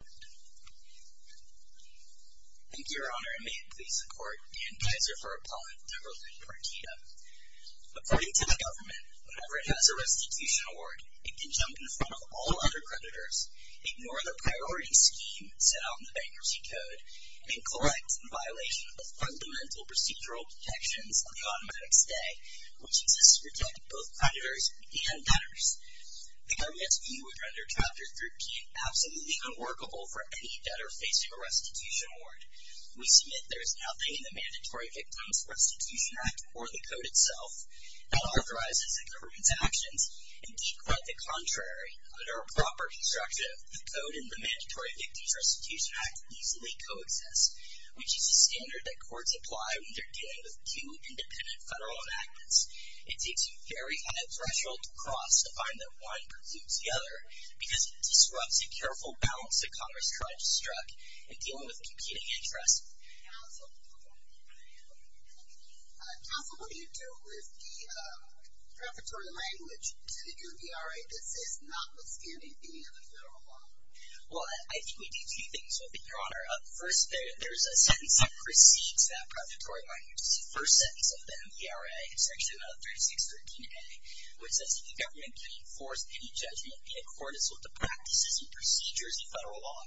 Thank you, Your Honor, and may it please the Court, Dan Geyser for Appellant Neverland Partida. According to the government, whenever it has a restitution award, it can jump in front of all other creditors, ignore the priority scheme set out in the Bankruptcy Code, and collect in violation of the fundamental procedural protections of the automatic stay, which exists to protect both creditors and debtors. The government's view would render Chapter 13 absolutely unworkable for any debtor facing a restitution award. We submit there is nothing in the Mandatory Victims Restitution Act or the Code itself that authorizes the government's actions, and quite the contrary, under a proper construction of the Code and the Mandatory Victims Restitution Act easily coexist, which is a standard that courts apply when they're dealing with two independent federal enactments. It takes a very high threshold to cross to find that one precludes the other because it disrupts a careful balance that Congress tried to struck in dealing with competing interests. Counsel, what do you do with the preparatory language to the MVRA that says, notwithstanding being in the federal law? Well, I think we do two things with it, Your Honor. First, there's a sentence that precedes that preparatory language. It's the first sentence of the MVRA. It's actually about 3613A, which says the government can enforce any judgment in accordance with the practices and procedures of federal law.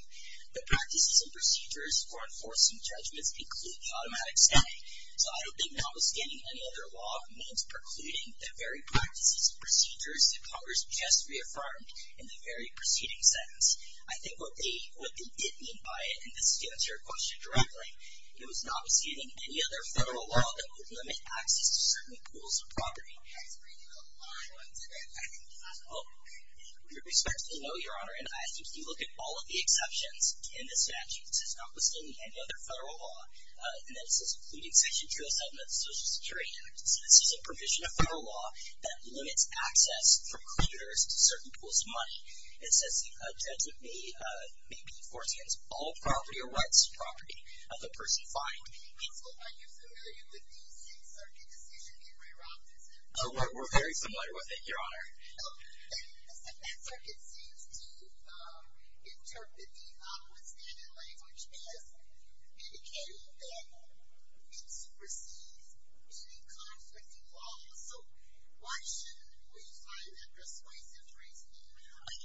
The practices and procedures for enforcing judgments include the automatic stay. So I don't think notwithstanding any other law means precluding the very practices and procedures that Congress just reaffirmed in the very preceding sentence. I think what they did mean by it, and this is to answer your question directly, it was notwithstanding any other federal law that would limit access to certain pools of property. I was reading a line once, and I think that's all. With respect, no, Your Honor. And I think if you look at all of the exceptions in the statute, this is notwithstanding any other federal law. And then it says precluding section 207 of the Social Security Act. So this is a provision of federal law that limits access for recruiters to certain pools of money. It says a judgment may be enforced against all property or rights to property. So are you familiar with the Sixth Circuit decision in Ray Robinson's case? We're very familiar with it, Your Honor. And the Sixth Circuit seems to interpret the notwithstanding language as indicating that it supersedes any conflicting laws. So why shouldn't we find that persuasive reasoning?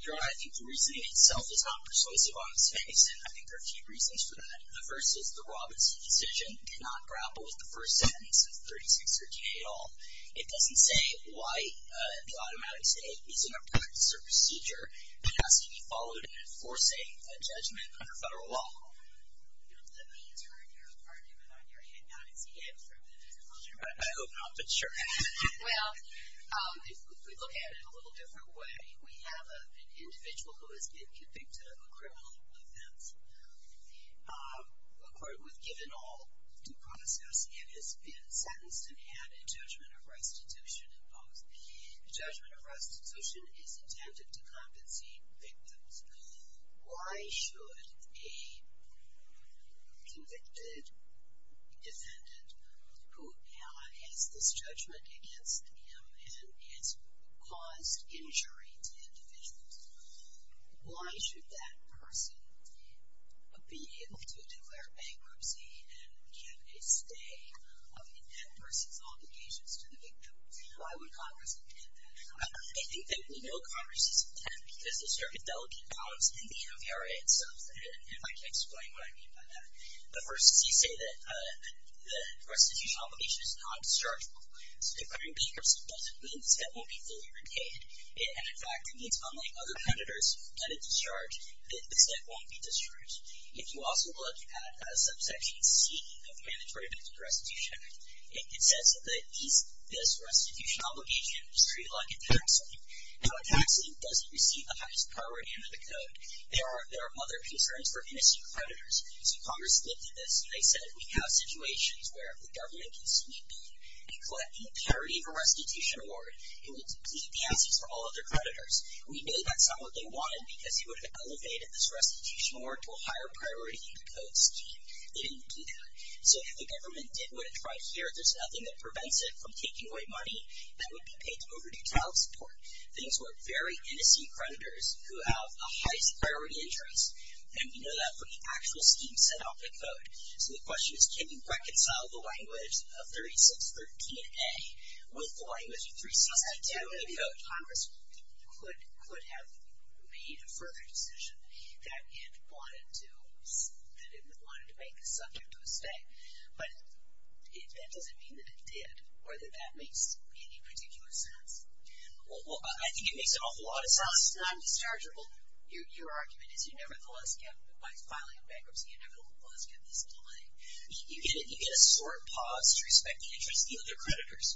Your Honor, I think the reasoning itself is not persuasive on its face, and I think there are a few reasons for that. The first is the Robinson decision did not grapple with the first sentence of 3638 at all. It doesn't say why the automatic state is in a practice or procedure that has to be followed in enforcing a judgment under federal law. Let me turn your argument on your head now and see if you can prove it. I hope not, but sure. Well, if we look at it in a little different way, we have an individual who has been convicted of a criminal offense. A court was given all due process and has been sentenced and had a judgment of restitution imposed. A judgment of restitution is intended to compensate victims. Why should a convicted defendant who has this judgment against him and has caused injury to individuals, why should that person be able to declare bankruptcy and get a stay of intent versus obligations to the victim? Why would Congress intend that? I think that we know Congress is intent because there's very delicate problems in the MVRA itself, and if I can explain what I mean by that. The first is you say that the restitution obligation is non-dischargeable. So declaring bankruptcy doesn't mean this debt won't be fully repaid. And, in fact, it means, unlike other creditors who get a discharge, that this debt won't be discharged. If you also look at subsection C of the Mandatory Victim Restitution Act, it says that this restitution obligation is treated like a tax lien. Now, a tax lien doesn't receive the highest priority under the code. There are other concerns for innocent creditors. So Congress lifted this, and they said, If we have situations where the government can sneak in and collect any priority of a restitution award, it will deplete the answers for all of their creditors. We know that's not what they wanted because it would have elevated this restitution award to a higher priority in the code scheme. They didn't do that. So if the government did what it tried here, there's nothing that prevents it from taking away money that would be paid to overdue child support. Things work very innocent creditors who have a highest priority interest, and we know that from the actual scheme set out in the code. So the question is, can you reconcile the language of 3613A with the language of 362 in the code? Congress could have made a further decision that it wanted to make the subject of a stay, but that doesn't mean that it did, or that that makes any particular sense. Well, I think it makes an awful lot of sense. It's not indischargeable. Your argument is you nevertheless get, by filing a bankruptcy inevitable clause, get this delay. You get a sort of pause to respect the interest of the other creditors.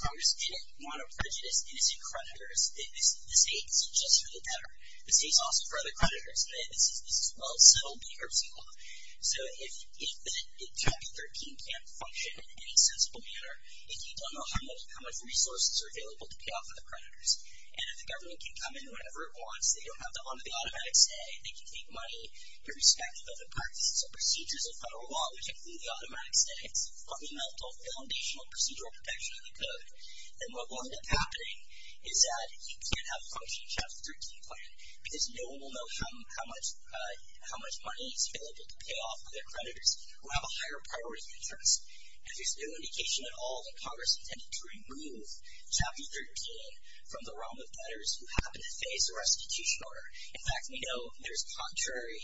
Congress didn't want to prejudice innocent creditors. The state is just for the better. The state's also for other creditors. This is a well-settled bankruptcy law. So if the 2013 can't function in any sensible manner, if you don't know how much resources are available to pay off for the creditors, and if the government can come in whenever it wants, they don't have to honor the automatic stay, they can take money irrespective of the practices and procedures of federal law, which include the automatic stay, it's fundamental foundational procedural protection of the code, then what will end up happening is that you can't have function in Chapter 13 plan, because no one will know how much money is available to pay off for their creditors who have a higher priority interest. And there's no indication at all that Congress intended to remove Chapter 13 from the realm of debtors who happen to face a restitution order. In fact, we know there's contrary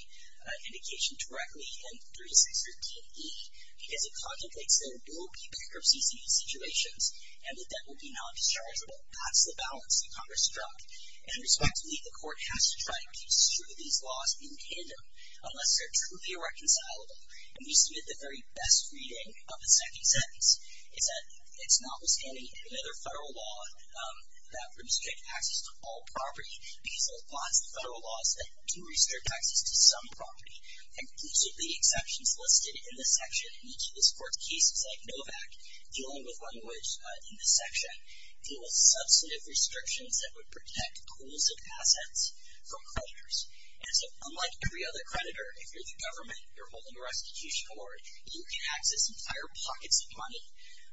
indication directly in 3613E, because it contemplates there will be bankruptcy situations, and the debt will be non-dischargeable. That's the balance that Congress struck. And respectfully, the court has to try to keep these laws in tandem unless they're truly irreconcilable. And we submit the very best reading of the second sentence, is that it's notwithstanding another federal law that restricts access to all property, because there's lots of federal laws that do restrict access to some property, inclusively exceptions listed in this section. Each of this court's cases, like Novak, dealing with language in this section, deal with substantive restrictions that would protect pools of assets from creditors. And so unlike every other creditor, if you're the government, you're holding a restitution order, you can access entire pockets of money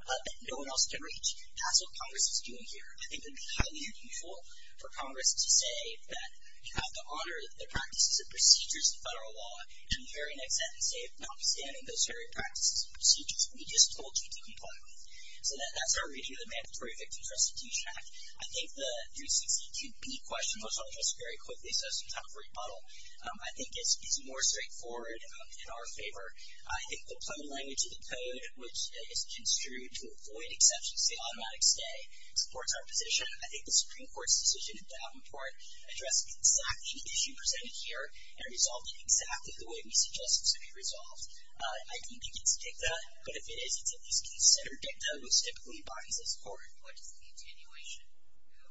that no one else can reach. That's what Congress is doing here. I think it would be highly unusual for Congress to say that you have to honor the practices and procedures of federal law in the very next sentence, if notwithstanding those very practices and procedures that we just told you to comply with. So that's our reading of the Mandatory Victims Restitution Act. I think the 362B question was addressed very quickly, so some time for rebuttal. I think it's more straightforward in our favor. I think the plain language of the code, which is construed to avoid exceptions, the automatic stay, supports our position. I think the Supreme Court's decision in Davenport addressed exactly the issue presented here and resolved it exactly the way we suggested it should be resolved. I don't think it's dicta, but if it is, it's at least considered dicta, which typically binds this court. What is the continuation?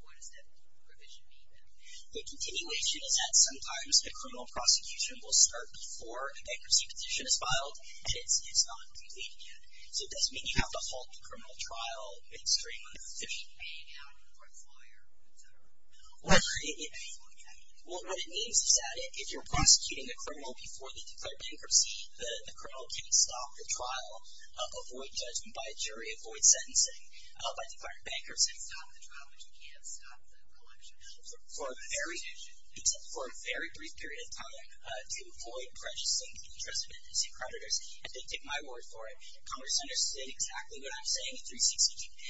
What does that provision mean, then? The continuation is that sometimes a criminal prosecution will start before a bankruptcy petition is filed, and it's not completed yet. So it doesn't mean you have to halt the criminal trial extremely. Paying out a court lawyer, et cetera. What it means is that if you're prosecuting a criminal before they declare bankruptcy, the criminal can't stop the trial, avoid judgment by a jury, avoid sentencing by declaring bankruptcy. Stop the trial, but you can't stop the collection. Except for a very brief period of time, to avoid precious links, I think take my word for it. Congress understood exactly what I'm saying in 362K,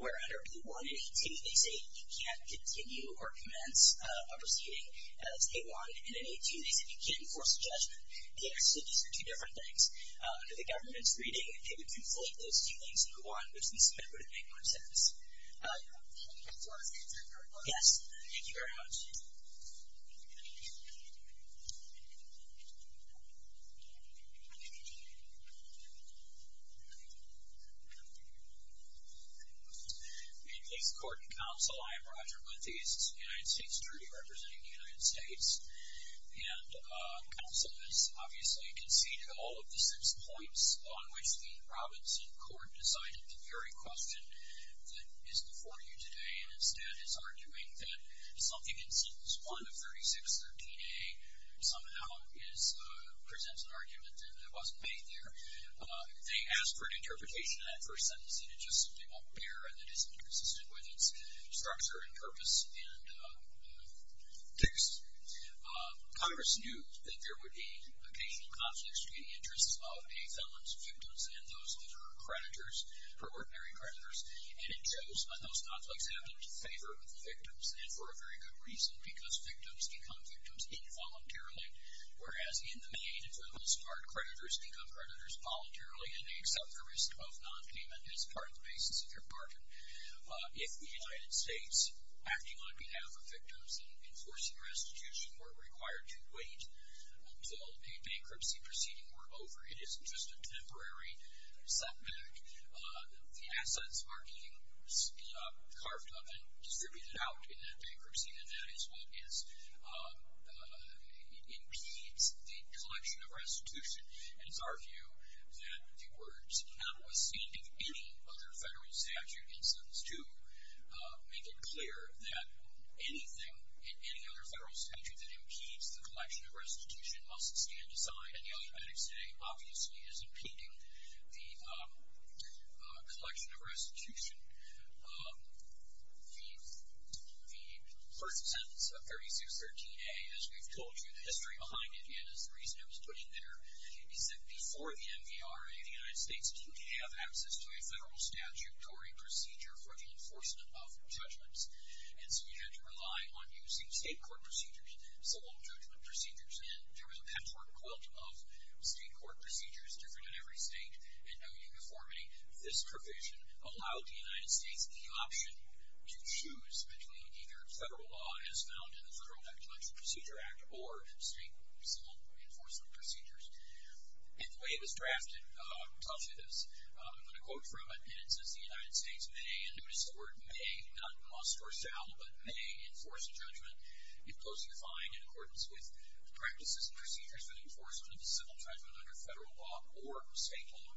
where under blue 1 and 18, they say you can't continue or commence a proceeding. As A1 and then A2, they say you can't enforce a judgment. The interstitials are two different things. Under the government's reading, they would conflate those two things into one, which we submitted would have made more sense. Yes. Thank you very much. Thank you. In this court and counsel, I am Roger Lentheis, United States Attorney representing the United States. And counsel has obviously conceded all of the six points on which the province in court decided the very question that is before you today, and instead is arguing that something in sentence 1 of 3613A somehow presents an argument that wasn't made there. They asked for an interpretation of that first sentence, and it just simply won't bear, and it isn't consistent with its structure and purpose and text. Congress knew that there would be occasional conflicts between the interests of a felon's victims and those of her creditors, her ordinary creditors, and it chose when those conflicts happened in favor of the victims, and for a very good reason, because victims become victims involuntarily, whereas in the main, it's where most hard creditors become creditors voluntarily and they accept the risk of nonpayment as part of the basis of their pardon. If the United States, acting on behalf of victims and enforcing restitution, were required to wait until a bankruptcy proceeding were over, it isn't just a temporary setback. The assets are being carved up and distributed out in that bankruptcy, and that is what impedes the collection of restitution, and it's our view that the words come withstanding any other federal statute instance to make it clear that anything in any other federal statute that impedes the collection of restitution must stand aside, and the alibetics today obviously is impeding the collection of restitution. The first sentence of 3213A, as we've told you, the history behind it, and is the reason it was put in there, is that before the MVRA, the United States didn't have access to a federal statutory procedure for the enforcement of judgments, and so you had to rely on using state court procedures, civil judgment procedures, and there was a patchwork quilt of state court procedures, different in every state, and no uniformity. This provision allowed the United States the option to choose between either federal law, as found in the Federal Elections Procedure Act, or state civil enforcement procedures. And the way it was drafted tells you this. I'm going to quote from it, and it says, the United States may, and notice the word may, not must or shall, but may enforce a judgment if closely defined in accordance with the practices and procedures for the enforcement of a civil judgment under federal law or state law.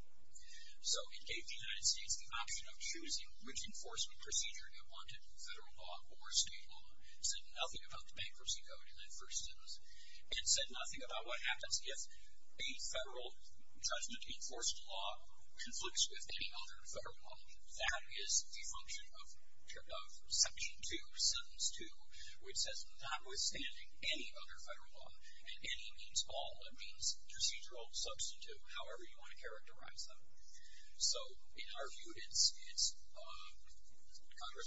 So it gave the United States the option of choosing which enforcement procedure they wanted, federal law or state law, said nothing about the bankruptcy code in that first sentence, and said nothing about what happens if a federal judgment-enforced law conflicts with any other federal law. That is the function of Section 2, Sentence 2, which says notwithstanding any other federal law, and any means all. It means procedural, substantive, however you want to characterize them. So in our view, Congress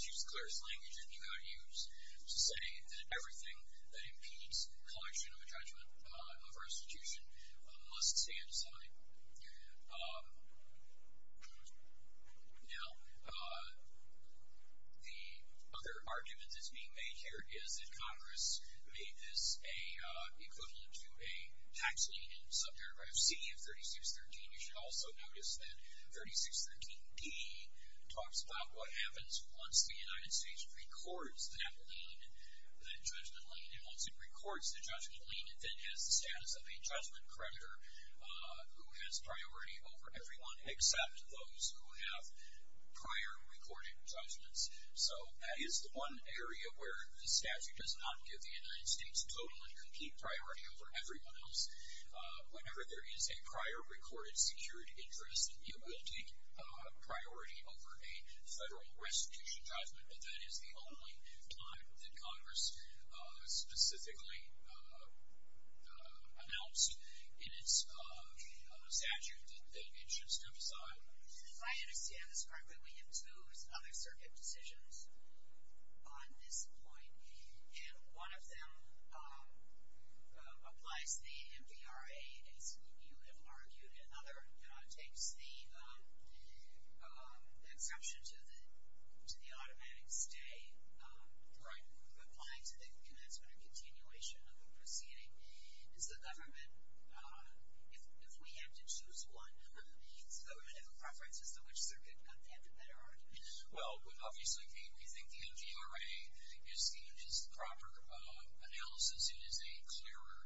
used the clearest language that you could use to say that everything that impedes collection of a judgment of our institution must stand aside. Now, the other argument that's being made here is that Congress made this equivalent to a tax lien in sub-paragraph C of 3613. You should also notice that 3613d talks about what happens once the United States records that lien, that judgment lien. And once it records the judgment lien, it then has the status of a judgment creditor who has priority over everyone except those who have prior recorded judgments. So that is the one area where the statute does not give the United States total and complete priority over everyone else. Whenever there is a prior recorded secured interest, it will take priority over a federal restitution judgment, but that is the only time that Congress specifically announced in its statute that it should step aside. If I understand this correctly, we have two other circuit decisions on this point, and one of them applies the MVRA, as you have argued, and another takes the exception to the automatic stay. Right. Applying to the commencement or continuation of the proceeding. Is the government, if we had to choose one, does the government have a preference as to which circuit got that better argument? Well, obviously we think the MVRA is the proper analysis. It is a clearer,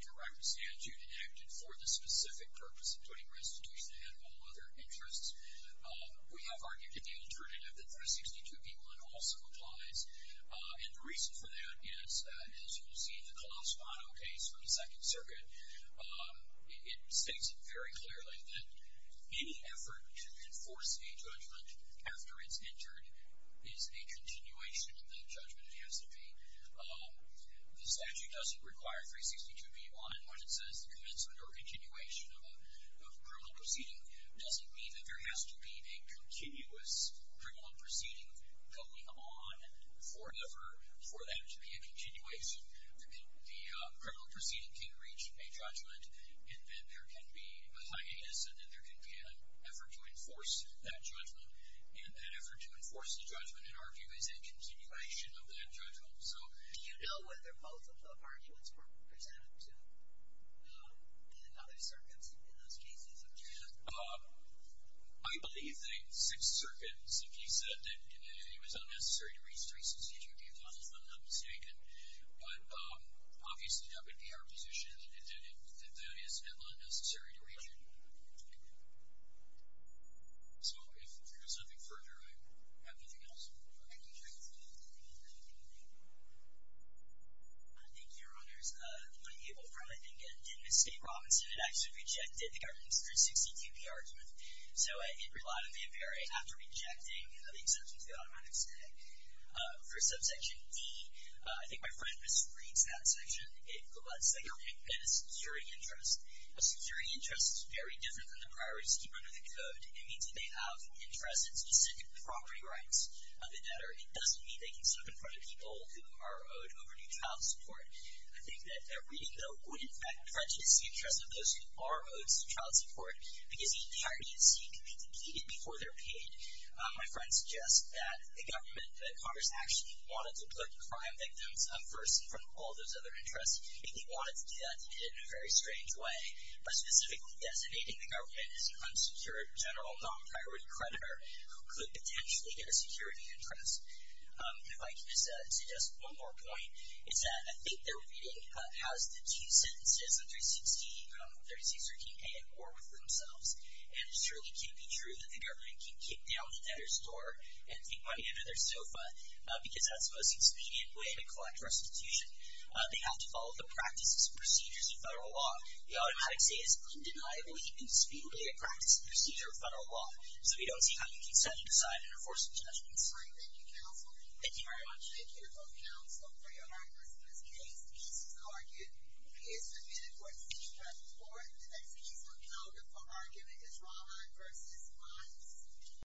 direct statute enacted for the specific purpose of putting restitution ahead of all other interests. We have argued in the alternative that 362b-1 also applies. And the reason for that is, as you will see in the Klaus Wadow case from the Second Circuit, it states very clearly that any effort to enforce a judgment after it's entered is a continuation of that judgment. It has to be. The statute doesn't require 362b-1 when it says the commencement or continuation of a criminal proceeding. It doesn't mean that there has to be a continuous criminal proceeding going on forever for that to be a continuation. The criminal proceeding can reach a judgment, and then there can be a hiatus, and then there can be an effort to enforce that judgment. And that effort to enforce the judgment, in our view, is a continuation of that judgment. Do you know whether both of the arguments were presented to other circuits in those cases? I believe that six circuits, if you said that it was unnecessary to reach 362b-1, is not mistaken. But obviously that would be our position that that is not necessary to reach anymore. So if there is nothing further, I have nothing else. Thank you. Thank you, Your Honors. I'm Abel from, I think, Ennis State, Robinson. It actually rejected the government's 362b argument. So it relied on the FBI after rejecting the exemption to the automatic stay. For subsection D, I think my friend misreads that section. It lets the government get a security interest. A security interest is very different than the priority scheme under the Code. It means that they have interest in specific property rights of the debtor. It doesn't mean they can sit in front of people who are owed overdue child support. I think that that reading, though, would, in fact, prejudice the interest of those who are owed child support, because the entire agency can be depleted before they're paid. My friend suggests that the government, that Congress actually wanted to put crime victims up first in front of all those other interests. And they wanted to do that, and they did it in a very strange way, by specifically designating the government as an unsecured general non-priority creditor who could potentially get a security interest. If I could just suggest one more point, it's that I think their reading has the two sentences on 316, 3613a, in order for themselves. And it surely can't be true that the government can kick down the debtor's door and take money under their sofa, because that's the most expedient way to collect restitution. They have to follow the practices and procedures of federal law. The Audit Codex A is undeniably and expediently a practice and procedure of federal law. So we don't see how you can set it aside and enforce the judgments. Thank you, counsel. Thank you very much. Thank you both, counsel, for your arguments. In this case, Casey's argument is submitted for decision, or the next case we'll count it for argument is Rahman v. Miles.